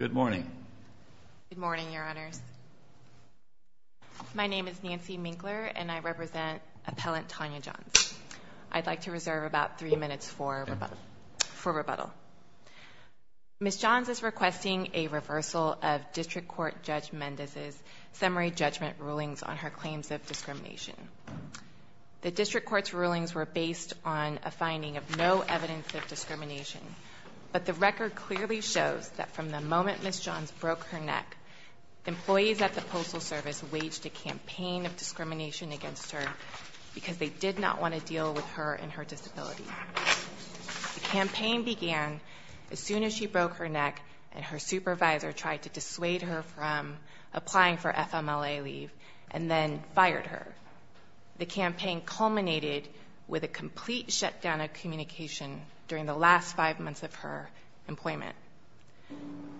Good morning. Good morning, Your Honors. My name is Nancy Minkler, and I represent Appellant Tania Johns. I'd like to reserve about three minutes for rebuttal. Ms. Johns is requesting a reversal of District Court Judge Mendez's summary judgment rulings on her claims of discrimination. The district court's rulings were based on a finding of no evidence of discrimination, but the moment Ms. Johns broke her neck, employees at the Postal Service waged a campaign of discrimination against her because they did not want to deal with her and her disability. The campaign began as soon as she broke her neck and her supervisor tried to dissuade her from applying for FMLA leave and then fired her. The campaign culminated with a complete shutdown of communication during the last five months of her employment.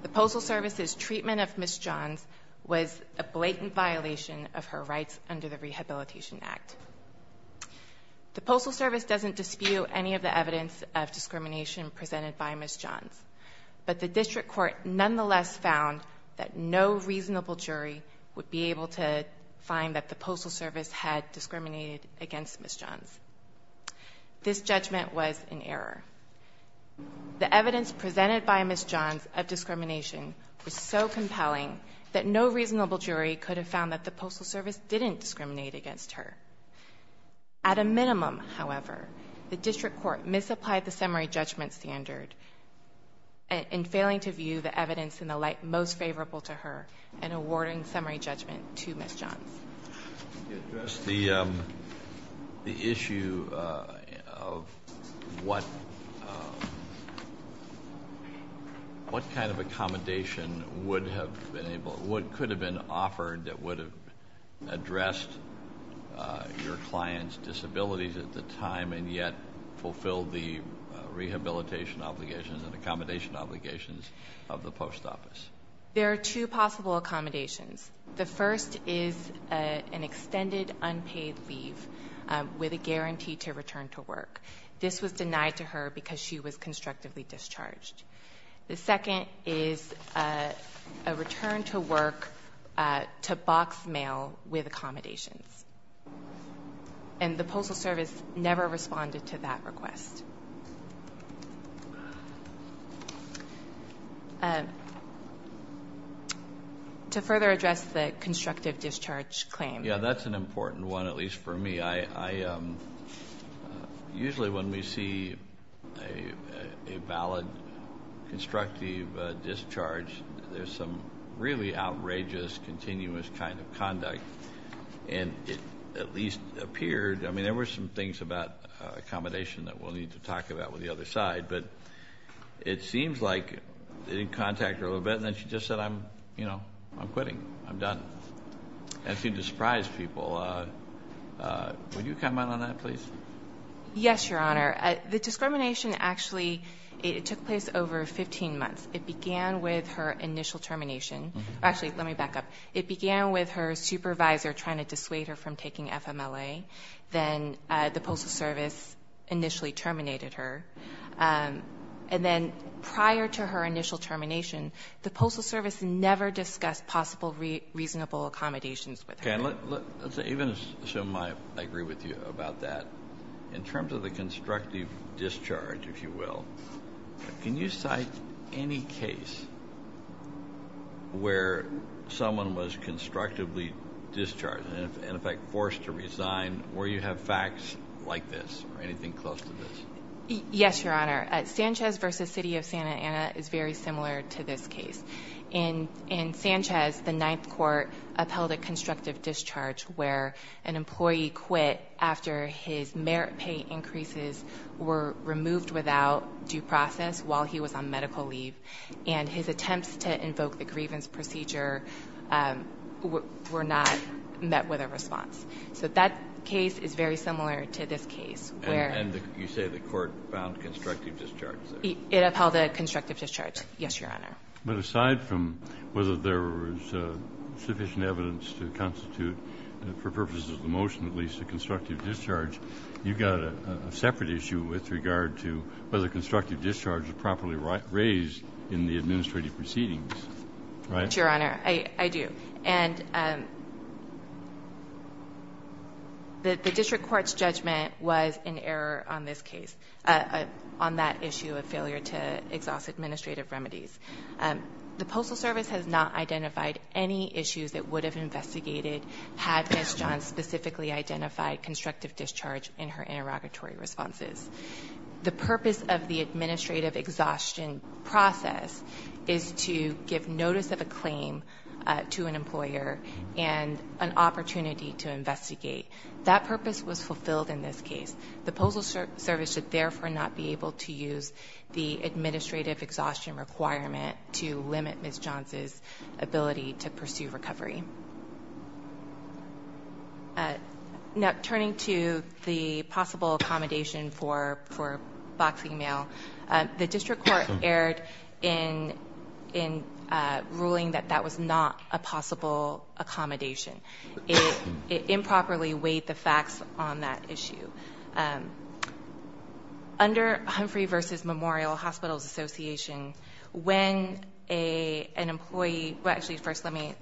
The Postal Service's treatment of Ms. Johns was a blatant violation of her rights under the Rehabilitation Act. The Postal Service doesn't dispute any of the evidence of discrimination presented by Ms. Johns, but the district court nonetheless found that no reasonable jury would be able to find that the Postal Service had discriminated against her. The evidence presented by Ms. Johns of discrimination was so compelling that no reasonable jury could have found that the Postal Service didn't discriminate against her. At a minimum, however, the district court misapplied the summary judgment standard in failing to view the evidence in the light most favorable to her and awarding summary judgment to Ms. Johns. To address the issue of what kind of accommodation would have been able, what could have been offered that would have addressed your client's disabilities at the time and yet fulfilled the rehabilitation obligations and accommodation obligations of the Post Office. There are two possible accommodations. The first is an extended unpaid leave with a guarantee to return to work. This was denied to her because she was constructively discharged. The second is a return to work to box mail with accommodations. And the Postal Service never responded to that request. To further address the constructive discharge claim. Yeah, that's an important one at least for me. Usually when we see a valid constructive discharge, there's some really outrageous continuous kind of conduct and it at least appeared, I will need to talk about with the other side, but it seems like they didn't contact her a little bit and then she just said I'm, you know, I'm quitting. I'm done. That seemed to surprise people. Would you comment on that please? Yes, Your Honor. The discrimination actually, it took place over 15 months. It began with her initial termination. Actually, let me back up. It began with her supervisor trying to terminate her. And then prior to her initial termination, the Postal Service never discussed possible reasonable accommodations with her. Okay, let's even assume I agree with you about that. In terms of the constructive discharge, if you will, can you cite any case where someone was constructively discharged and in effect forced to resign where you have facts like this or anything close to this? Yes, Your Honor. Sanchez v. City of Santa Ana is very similar to this case. In Sanchez, the Ninth Court upheld a constructive discharge where an employee quit after his merit pay increases were removed without due process while he was on medical leave and his attempts to invoke the grievance procedure were not met with a response. So that case is very similar to this case. And you say the court found constructive discharge? It upheld a constructive discharge. Yes, Your Honor. But aside from whether there was sufficient evidence to constitute, for purposes of the motion at least, a constructive discharge, you've got a separate issue with regard to whether constructive discharge is properly raised in the administrative proceedings, right? Your Honor, I do. And the District Court's judgment was in error on this case, on that issue of failure to exhaust administrative remedies. The Postal Service has not identified any issues that would have investigated had Ms. Johns specifically identified constructive discharge in her interrogatory responses. The purpose of the administrative exhaustion process is to give notice of a claim to an employer and an opportunity to investigate. That purpose was fulfilled in this case. The Postal Service should therefore not be able to use the administrative exhaustion requirement to limit Ms. Johns' ability to pursue The District Court erred in ruling that that was not a possible accommodation. It improperly weighed the facts on that issue. Under Humphrey v. Memorial Hospitals Association, when an employee... Actually, first let me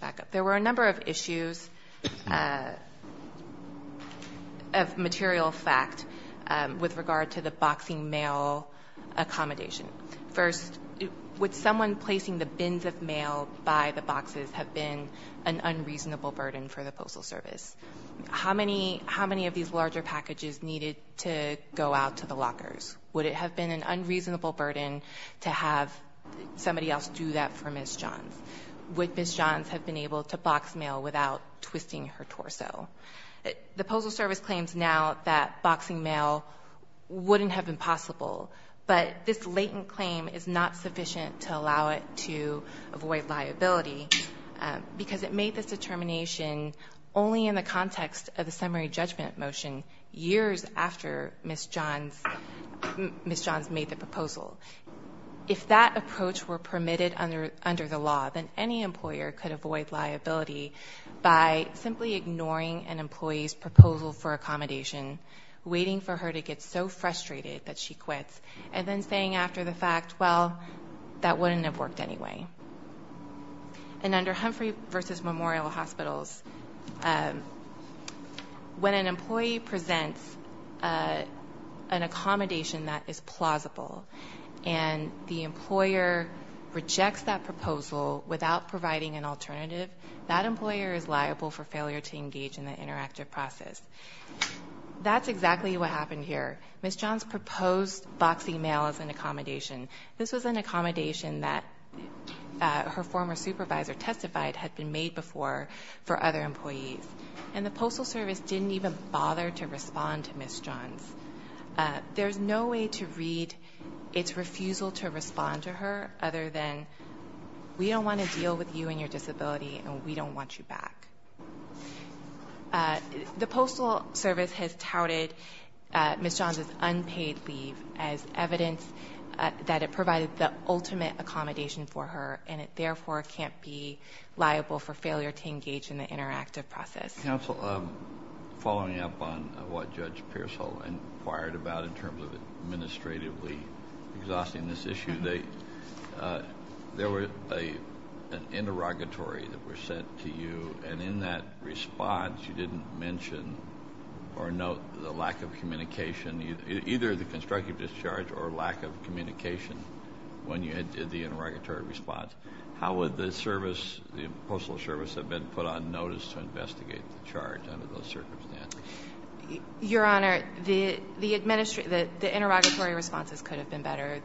back up. There were a number of issues of material fact with regard to the boxing mail accommodation. First, would someone placing the bins of mail by the boxes have been an unreasonable burden for the Postal Service? How many of these larger packages needed to go out to the lockers? Would it have been an unreasonable burden to have somebody else do that for Ms. Johns? Would Ms. Johns have been able to box mail without twisting her torso? The Postal Service claims now that boxing mail wouldn't have been possible, but this latent claim is not sufficient to allow it to avoid liability because it made this determination only in the context of the summary judgment motion years after Ms. Johns made the proposal. If that approach were permitted under the law, then any employer could avoid liability by simply ignoring an employee's proposal for accommodation, waiting for her to get so frustrated that she quits, and then saying after the fact, well, that wouldn't have worked anyway. And under Humphrey v. Memorial Hospitals, when an employee presents an proposal without providing an alternative, that employer is liable for failure to engage in the interactive process. That's exactly what happened here. Ms. Johns proposed boxing mail as an accommodation. This was an accommodation that her former supervisor testified had been made before for other employees, and the Postal Service didn't even bother to respond to Ms. Johns. There's no way to read its refusal to respond to her other than, we don't want to deal with you and your disability, and we don't want you back. The Postal Service has touted Ms. Johns' unpaid leave as evidence that it provided the ultimate accommodation for her, and it therefore can't be liable for failure to engage in the interactive process. Counsel, following up on what Judge Pearsall inquired about in terms of administratively exhausting this issue, there was an interrogatory that was sent to you, and in that response, you didn't mention or note the lack of communication, either the constructive discharge or lack of communication, when you did the interrogatory response. How would the Postal Service have been put on notice to investigate the charge under those circumstances? Your Honor, the interrogatory responses could have been better.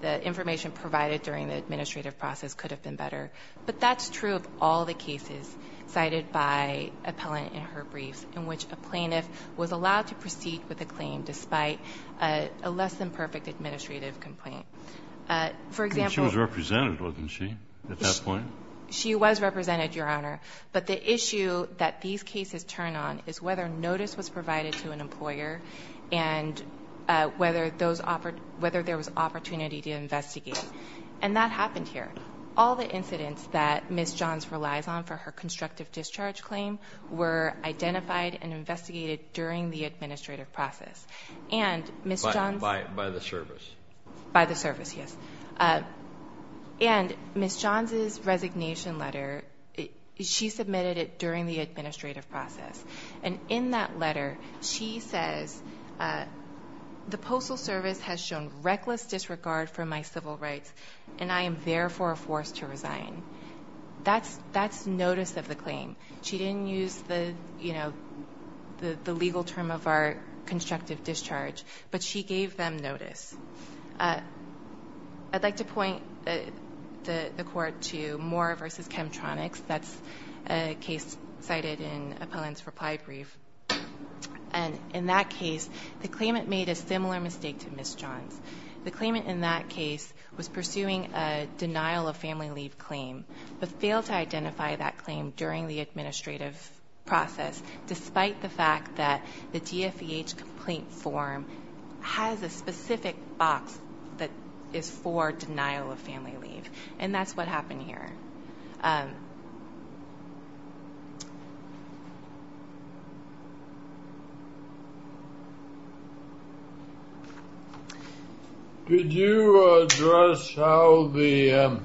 The information provided during the administrative process could have been better, but that's true of all the cases cited by appellant in her briefs in which a plaintiff was allowed to proceed with a claim despite a less-than-perfect administrative complaint. She was represented, wasn't she, at that point? She was represented, Your Honor, but the issue that these cases turn on is whether notice was provided to an appellant, whether there was opportunity to investigate, and that happened here. All the incidents that Ms. Johns relies on for her constructive discharge claim were identified and investigated during the administrative process, and Ms. Johns... By the Service. By the Service, yes, and Ms. Johns's resignation letter, she submitted it during the administrative process, and in that letter, she says, the Postal Service has shown reckless disregard for my civil rights, and I am therefore forced to resign. That's notice of the claim. She didn't use the, you know, the legal term of our constructive discharge, but she gave them notice. I'd like to point the court to Moore v. Chemtronics. That's a case cited in Appellant's reply brief, and in that case, the claimant made a similar mistake to Ms. Johns. The claimant in that case was pursuing a denial-of-family-leave claim, but failed to identify that claim during the administrative process, despite the fact that the DFEH complaint form has a specific box that is for denial-of-family-leave, and that's what happened. Could you address how the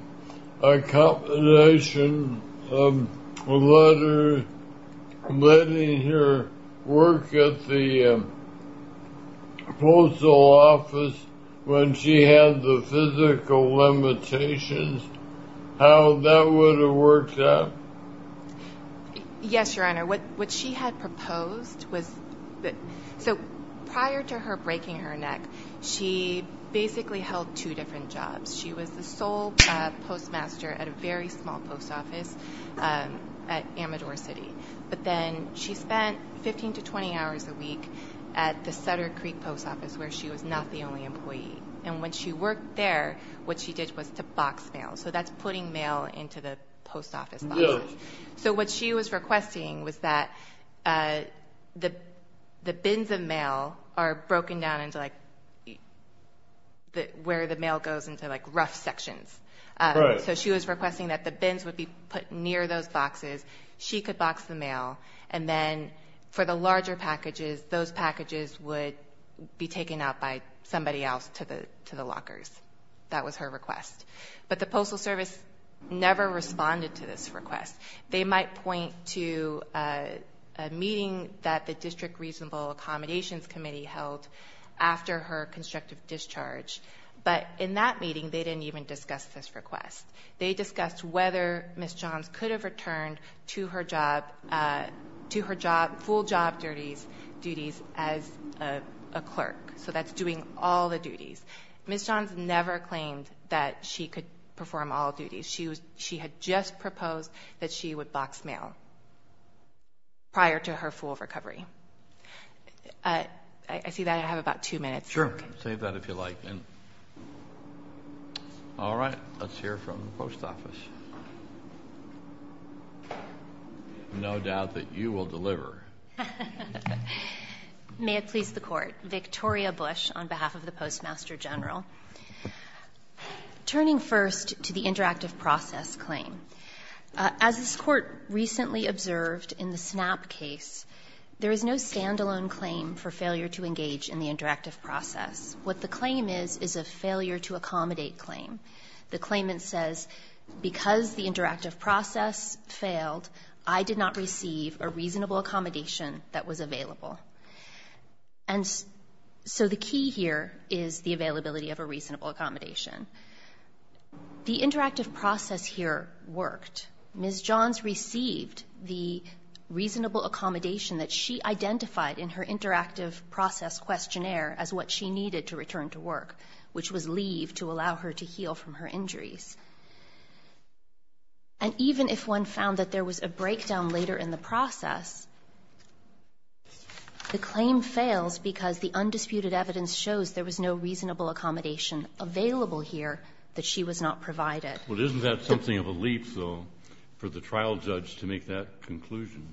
accommodation letter, letting her work at the Postal Office when she had the physical limitations, how that would have worked out? Yes, Your Honor. What she had proposed was that, so prior to her breaking her neck, she basically held two different jobs. She was the sole postmaster at a very small post office at Amador City, but then she spent 15 to 20 hours a week at the Sutter Creek Post Office, where she was not the only employee, and when she worked there, what she did was to box mail. So that's putting mail into the post office. So what she was requesting was that the bins of mail are broken down into, like, where the mail goes into, like, rough sections. So she was requesting that the bins would be put near those boxes. She could box the packages would be taken out by somebody else to the to the lockers. That was her request. But the Postal Service never responded to this request. They might point to a meeting that the District Reasonable Accommodations Committee held after her constructive discharge, but in that meeting, they didn't even discuss this request. They discussed whether Ms. Johns could have returned to her job, to as a clerk. So that's doing all the duties. Ms. Johns never claimed that she could perform all duties. She had just proposed that she would box mail prior to her full recovery. I see that I have about two minutes. Sure, save that if you like. All right, let's hear from the post office. No doubt that you will deliver. May it please the Court. Victoria Bush on behalf of the Postmaster General. Turning first to the interactive process claim, as this Court recently observed in the Snap case, there is no standalone claim for failure to engage in the interactive process. What the claim is, is a failure to accommodate claim. The claimant says, because the interactive process failed, I did not receive a reasonable accommodation that was available. And so the key here is the availability of a reasonable accommodation. The interactive process here worked. Ms. Johns received the reasonable accommodation that she identified in her interactive process questionnaire as what she needed to return to work, which was leave to allow her to heal from her injuries. And even if one found that there was a breakdown later in the process, the claim fails because the undisputed evidence shows there was no reasonable accommodation available here that she was not provided. Well, isn't that something of a leap, though, for the trial judge to make that conclusion?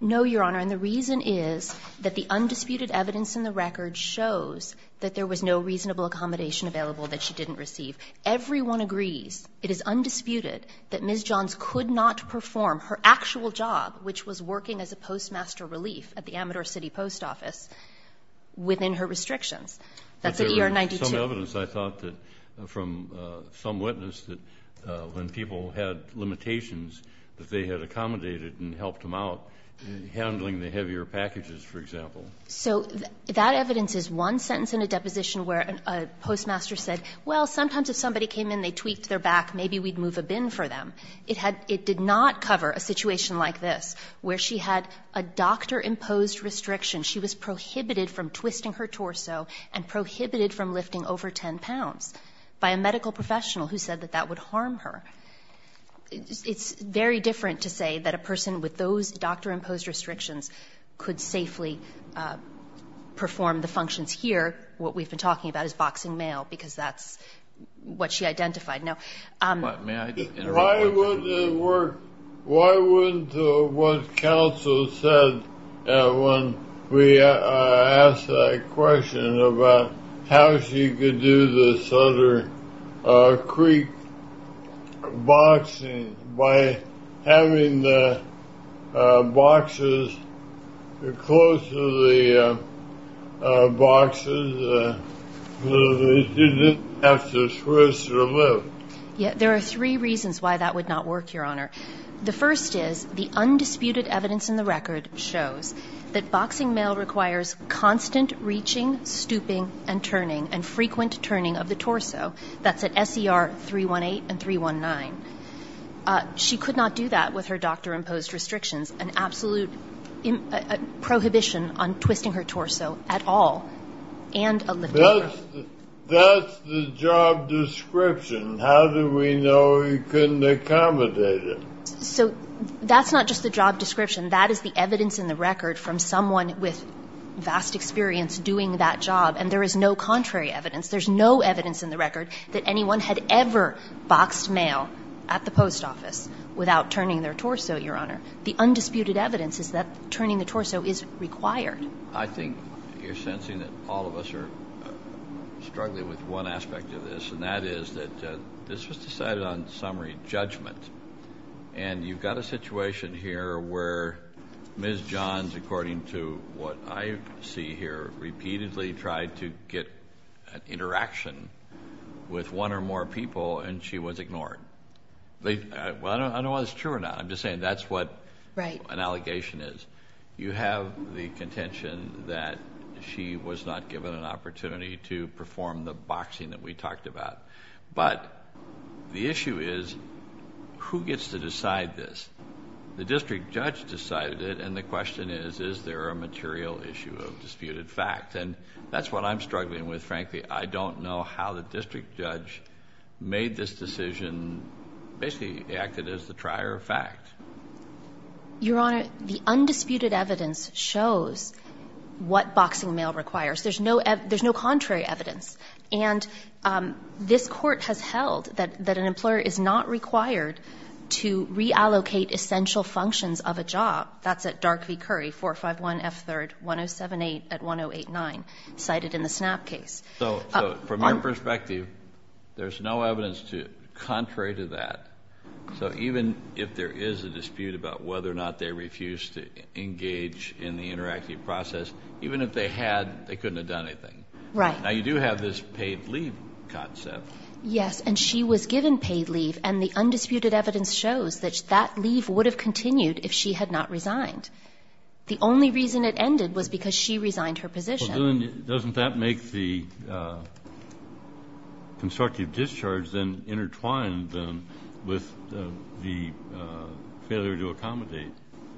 No, Your Honor, and the reason is that the undisputed evidence in the record shows that there was no reasonable accommodation available that she didn't receive. Everyone agrees, it is undisputed, that Ms. Johns could not perform her actual job, which was working as a postmaster relief at the Amador City Post Office, within her restrictions. That's at year 92. But there was some evidence, I thought, from some witness that when people had limitations that they had accommodated and helped them out, handling the heavier packages, for example. So that evidence is one sentence in a deposition where a postmaster said, well, sometimes if somebody came in, they tweaked their back, maybe we'd move a bin for them. It had — it did not cover a situation like this, where she had a doctor-imposed restriction. She was prohibited from twisting her torso and prohibited from lifting over 10 pounds by a medical professional who said that that would harm her. It's very different to say that a person with those doctor-imposed restrictions could safely perform the functions here. What we've been talking about is boxing mail, because that's what she identified. Now — Why would it work — why wouldn't what counsel said when we asked that question about how she could do the Southern Creek boxing by having the boxes close to the boxes so that she didn't have to twist or lift? Yeah, there are three reasons why that would not work, Your Honor. The first is the undisputed evidence in the record shows that boxing mail requires constant reaching, stooping, and turning, and frequent turning of the torso. That's at SER 318 and 319. She could not do that with her doctor-imposed restrictions, an absolute prohibition on twisting her torso at all, and a lift over. That's the job description. How do we know you couldn't accommodate it? So that's not just the job description. That is the evidence in the record from someone with and there is no contrary evidence. There's no evidence in the record that anyone had ever boxed mail at the post office without turning their torso, Your Honor. The undisputed evidence is that turning the torso is required. I think you're sensing that all of us are struggling with one aspect of this, and that is that this was decided on summary judgment, and you've got a situation here where Ms. Johns, according to what I see here, repeatedly tried to get an interaction with one or more people, and she was ignored. I don't know whether that's true or not. I'm just saying that's what an allegation is. You have the contention that she was not given an opportunity to perform the boxing that we talked about, but the issue is who gets to decide this? The district judge decided it, and the question is, is there a material issue of disputed fact? And that's what I'm struggling with, frankly. I don't know how the district judge made this decision, basically acted as the trier of fact. Your Honor, the undisputed evidence shows what boxing mail requires. There's no contrary evidence, and this court has held that an employer is not required to reallocate essential functions of a job. That's at Dark v. Curry, 451 F3rd, 1078 at 1089, cited in the SNAP case. From your perspective, there's no evidence contrary to that. So even if there is a dispute about whether or not they refused to engage in the interactive process, even if they had, they couldn't have done anything. Right. Now you do have this paid leave concept. Yes, and she was given paid leave, and the undisputed evidence shows that that leave would have continued if she had not resigned. The only reason it ended was because she resigned her position. Well, then doesn't that make the constructive discharge then intertwined with the failure to accommodate?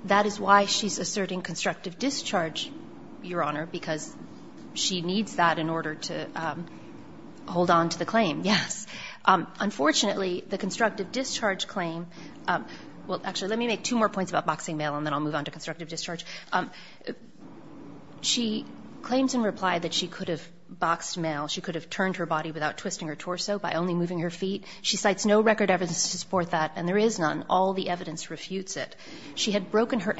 That is why she's asserting constructive discharge, Your Honor, because she needs that in order to hold on to the claim, yes. Unfortunately, the constructive discharge claim – well, actually, let me make two more points about boxing mail, and then I'll move on to constructive discharge. She claims in reply that she could have boxed mail, she could have turned her body without twisting her torso, by only moving her feet. She cites no record evidence to support that, and there is none. All the evidence refutes it. She had broken her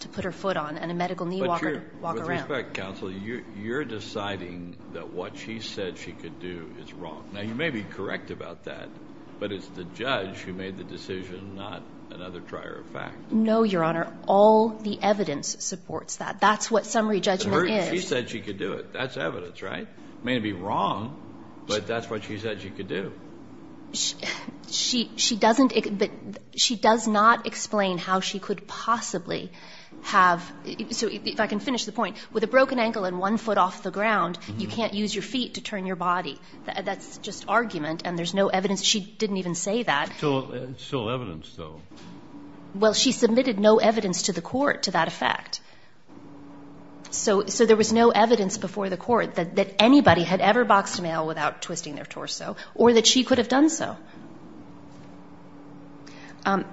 to put her foot on and a medical knee walker to walk around. With respect, counsel, you're deciding that what she said she could do is wrong. Now, you may be correct about that, but it's the judge who made the decision, not another trier of fact. No, Your Honor, all the evidence supports that. That's what summary judgment is. She said she could do it. That's evidence, right? It may be wrong, but that's what she said she could do. She doesn't – she does not explain how she could possibly have – so if I can finish the point, with a broken ankle and one foot off the ground, you can't use your feet to turn your body. That's just argument, and there's no evidence. She didn't even say that. It's still evidence, though. Well, she submitted no evidence to the court to that effect. So there was no evidence before the court that anybody had ever boxed mail without twisting their torso or that she could have done so. In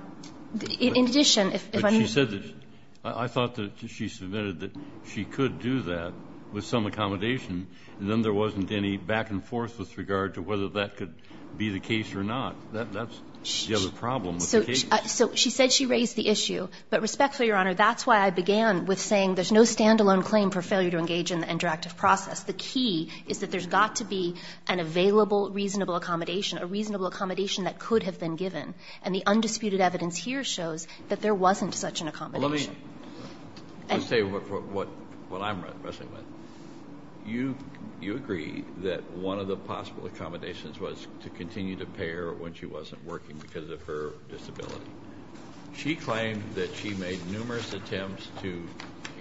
addition, if I'm – But she said that – I thought that she submitted that she could do that with some accommodation, and then there wasn't any back and forth with regard to whether that could be the case or not. That's the other problem with the case. So she said she raised the issue, but respectfully, Your Honor, that's why I began with saying there's no standalone claim for failure to engage in the interactive process. The key is that there's got to be an available, reasonable accommodation, a reasonable accommodation that could have been given. And the undisputed evidence here shows that there wasn't such an accommodation. Well, let me say what I'm wrestling with. You agree that one of the possible accommodations was to continue to pay her when she wasn't working because of her disability. She claimed that she made numerous attempts to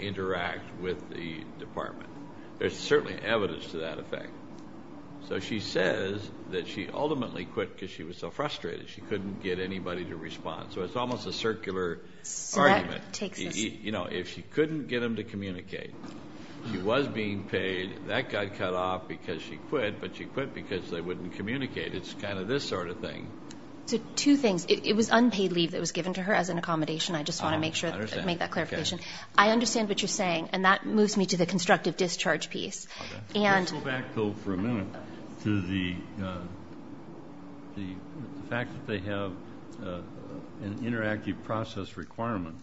interact with the department. There's certainly evidence to that effect. So she says that she ultimately quit because she was so frustrated. She couldn't get anybody to respond. So it's almost a circular argument. So that takes us – You know, if she couldn't get them to communicate, she was being paid. That got cut off because she quit, but she quit because they wouldn't communicate. It's kind of this sort of thing. So two things. It was unpaid leave that was given to her as an accommodation. I just want to make sure – make that clarification. I understand what you're saying. And that moves me to the constructive discharge piece. Let's go back, though, for a minute to the fact that they have an interactive process requirement.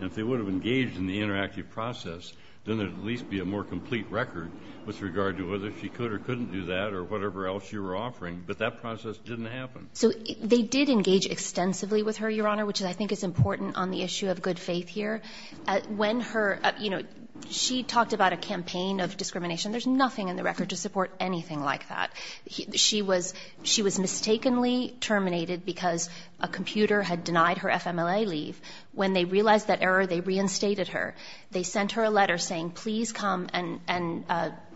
And if they would have engaged in the interactive process, then there would at least be a more complete record with regard to whether she could or couldn't do that or whatever else you were offering. But that process didn't happen. So they did engage extensively with her, Your Honor, which I think is important on the issue of good faith here. When her – you know, she talked about a campaign of discrimination. There's nothing in the record to support anything like that. She was mistakenly terminated because a computer had denied her FMLA leave. When they realized that error, they reinstated her. They sent her a letter saying, please come and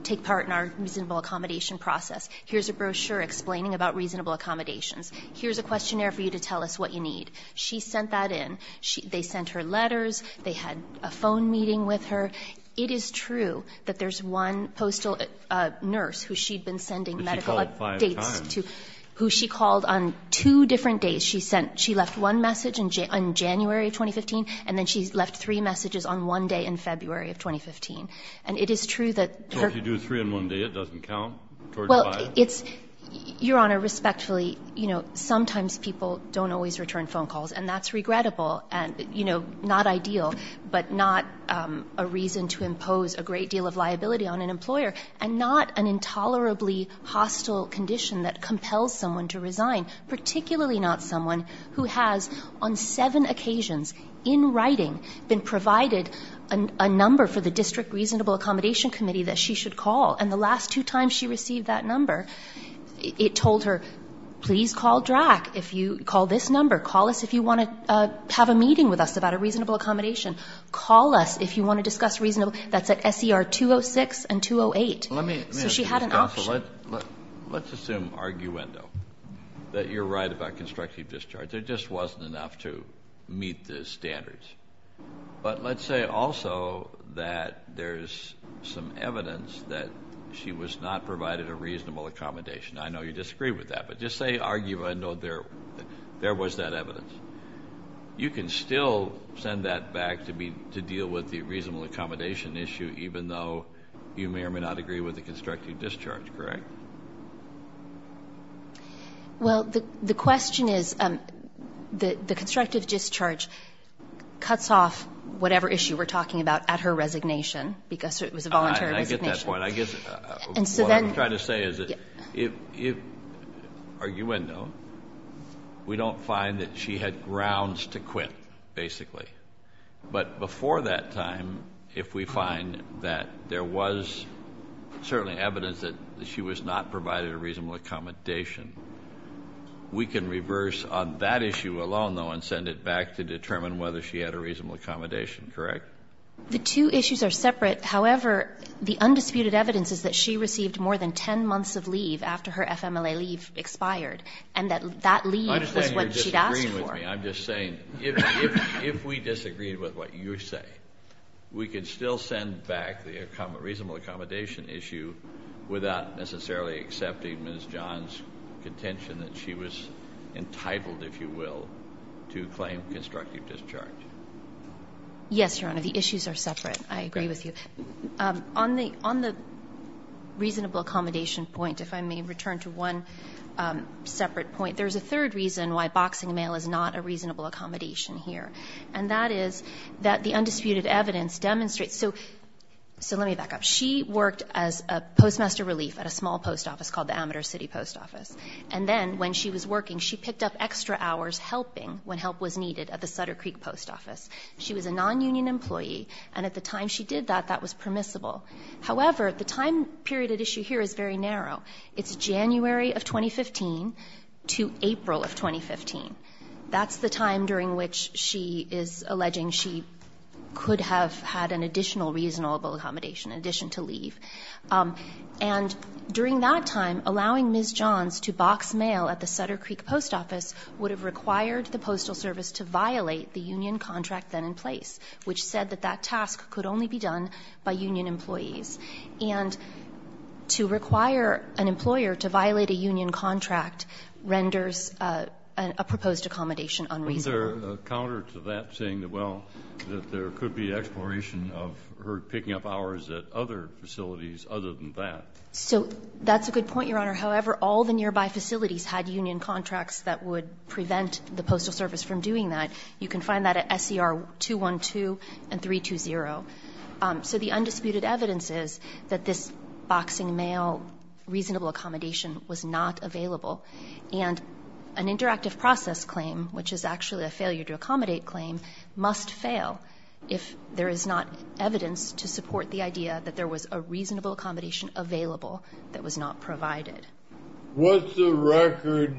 take part in our reasonable accommodation process. Here's a brochure explaining about reasonable accommodations. Here's a questionnaire for you to tell us what you need. She sent that in. They sent her letters. They had a phone meeting with her. It is true that there's one postal nurse who she'd been sending medical updates to. But she called five times. Who she called on two different days. She sent – she left one message in January of 2015, and then she left three messages on one day in February of 2015. And it is true that her – So if you do three in one day, it doesn't count? Well, it's – Your Honor, respectfully, you know, sometimes people don't always return phone calls. And that's regrettable. And, you know, not ideal. But not a reason to impose a great deal of liability on an employer. And not an intolerably hostile condition that compels someone to resign. Particularly not someone who has, on seven occasions in writing, been provided a number for the District Reasonable Accommodation Committee that she should call. And the last two times she received that number, it told her, please call DRAC if you – call this number. Call us if you want to have a meeting with us about a reasonable accommodation. Call us if you want to discuss reasonable – that's at SER 206 and 208. Let me – So she had an option. Let's assume arguendo. That you're right about constructive discharge. There just wasn't enough to meet the standards. But let's say also that there's some evidence that she was not provided a reasonable accommodation. I know you disagree with that. Just say arguendo there. There was that evidence. You can still send that back to deal with the reasonable accommodation issue, even though you may or may not agree with the constructive discharge, correct? Well, the question is, the constructive discharge cuts off whatever issue we're talking about at her resignation. Because it was a voluntary resignation. I get that point. I guess what I'm trying to say is, if – arguendo, we don't find that she had grounds to quit, basically. But before that time, if we find that there was certainly evidence that she was not provided a reasonable accommodation, we can reverse on that issue alone, though, and send it back to determine whether she had a reasonable accommodation, correct? The two issues are separate. However, the undisputed evidence is that she received more than 10 months of leave after her FMLA leave expired, and that that leave was what she'd asked for. I'm just saying, if we disagreed with what you say, we could still send back the reasonable accommodation issue without necessarily accepting Ms. John's contention that she was entitled, if you will, to claim constructive discharge. Yes, Your Honor, the issues are separate. I agree with you. On the – on the reasonable accommodation point, if I may return to one separate point, there's a third reason why boxing mail is not a reasonable accommodation here, and that is that the undisputed evidence demonstrates – so let me back up. She worked as a postmaster relief at a small post office called the Amateur City Post Office. And then when she was working, she picked up extra hours helping when help was needed at the Sutter Creek Post Office. She was a nonunion employee, and at the time she did that, that was permissible. However, the time period at issue here is very narrow. It's January of 2015 to April of 2015. That's the time during which she is alleging she could have had an additional reasonable accommodation, in addition to leave. And during that time, allowing Ms. John's to box mail at the Sutter Creek Post Office would have required the Postal Service to violate the union contract then in place, which said that that task could only be done by union employees. And to require an employer to violate a union contract renders a proposed accommodation unreasonable. Isn't there a counter to that saying that, well, that there could be exploration of her picking up hours at other facilities other than that? So that's a good point, Your Honor. However, all the nearby facilities had union contracts that would prevent the Postal Service from doing that. You can find that at SER 212 and 320. So the undisputed evidence is that this boxing mail reasonable accommodation was not available. And an interactive process claim, which is actually a failure to accommodate claim, must fail if there is not evidence to support the idea that there was a reasonable accommodation available that was not provided. What's the record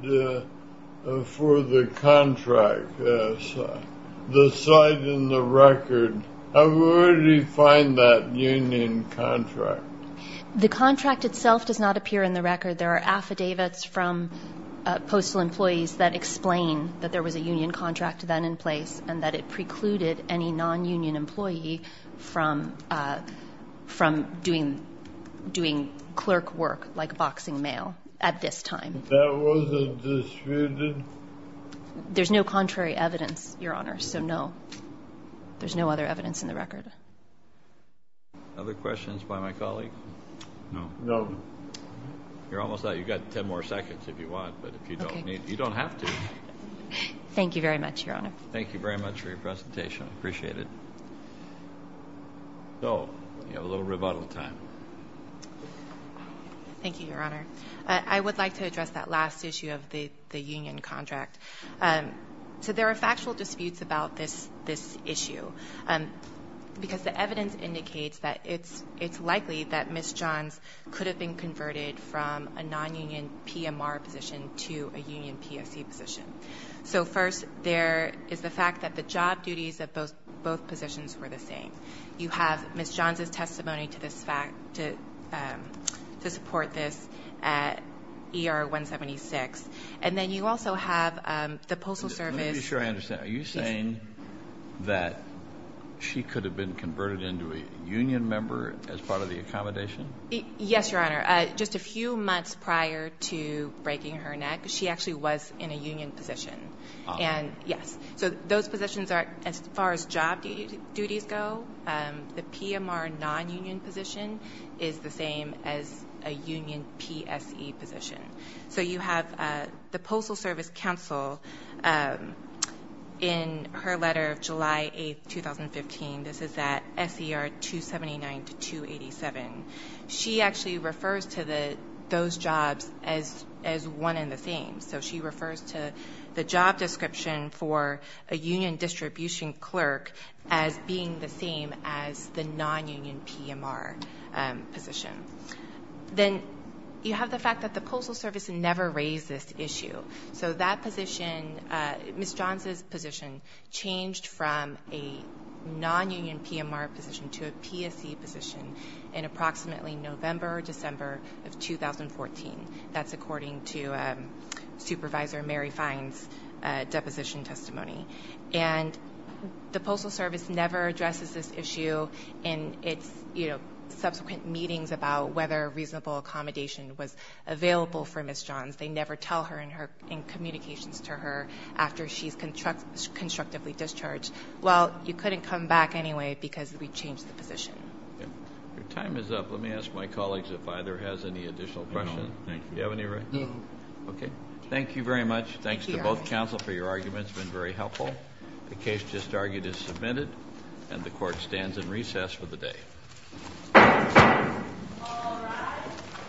for the contract? The site in the record. I've already found that union contract. The contract itself does not appear in the record. There are affidavits from postal employees that explain that there was a union contract then in place and that it precluded any non-union employee from doing clerk work like boxing mail at this time. There's no contrary evidence, Your Honor. So no, there's no other evidence in the record. Other questions by my colleague? No. You're almost out. You've got 10 more seconds if you want, but if you don't need, you don't have to. Thank you very much, Your Honor. Thank you very much for your presentation. I appreciate it. So we have a little rebuttal time. Thank you, Your Honor. I would like to address that last issue of the union contract. So there are factual disputes about this issue because the evidence indicates that it's likely that Ms. Johns could have been converted from a non-union PMR position to a union PSE position. So first, there is the fact that the job duties of both positions were the same. You have Ms. Johns' testimony to support this at ER 176. And then you also have the Postal Service. Let me be sure I understand. Are you saying that she could have been converted into a union member as part of the accommodation? Yes, Your Honor. Just a few months prior to breaking her neck, she actually was in a union position. And yes. So those positions are as far as job duties go. The PMR non-union position is the same as a union PSE position. So you have the Postal Service Counsel in her letter of July 8, 2015. This is at SER 279 to 287. She actually refers to those jobs as one and the same. So she refers to the job description for a union distribution clerk as being the same as the non-union PMR position. Then you have the fact that the Postal Service never raised this issue. So that position, Ms. Johns' position changed from a non-union PMR position to a PSE position in approximately November or December of 2014. That's according to Supervisor Mary Fine's deposition testimony. And the Postal Service never addresses this issue in its, you know, subsequent meetings about whether reasonable accommodation was available for Ms. Johns. They never tell her in communications to her after she's constructively discharged. Well, you couldn't come back anyway because we changed the position. Your time is up. Let me ask my colleagues if either has any additional questions. No, thank you. Do you have any, Ray? No. Okay. Thank you very much. Thanks to both counsel for your arguments. It's been very helpful. The case just argued is submitted and the court stands in recess for the day.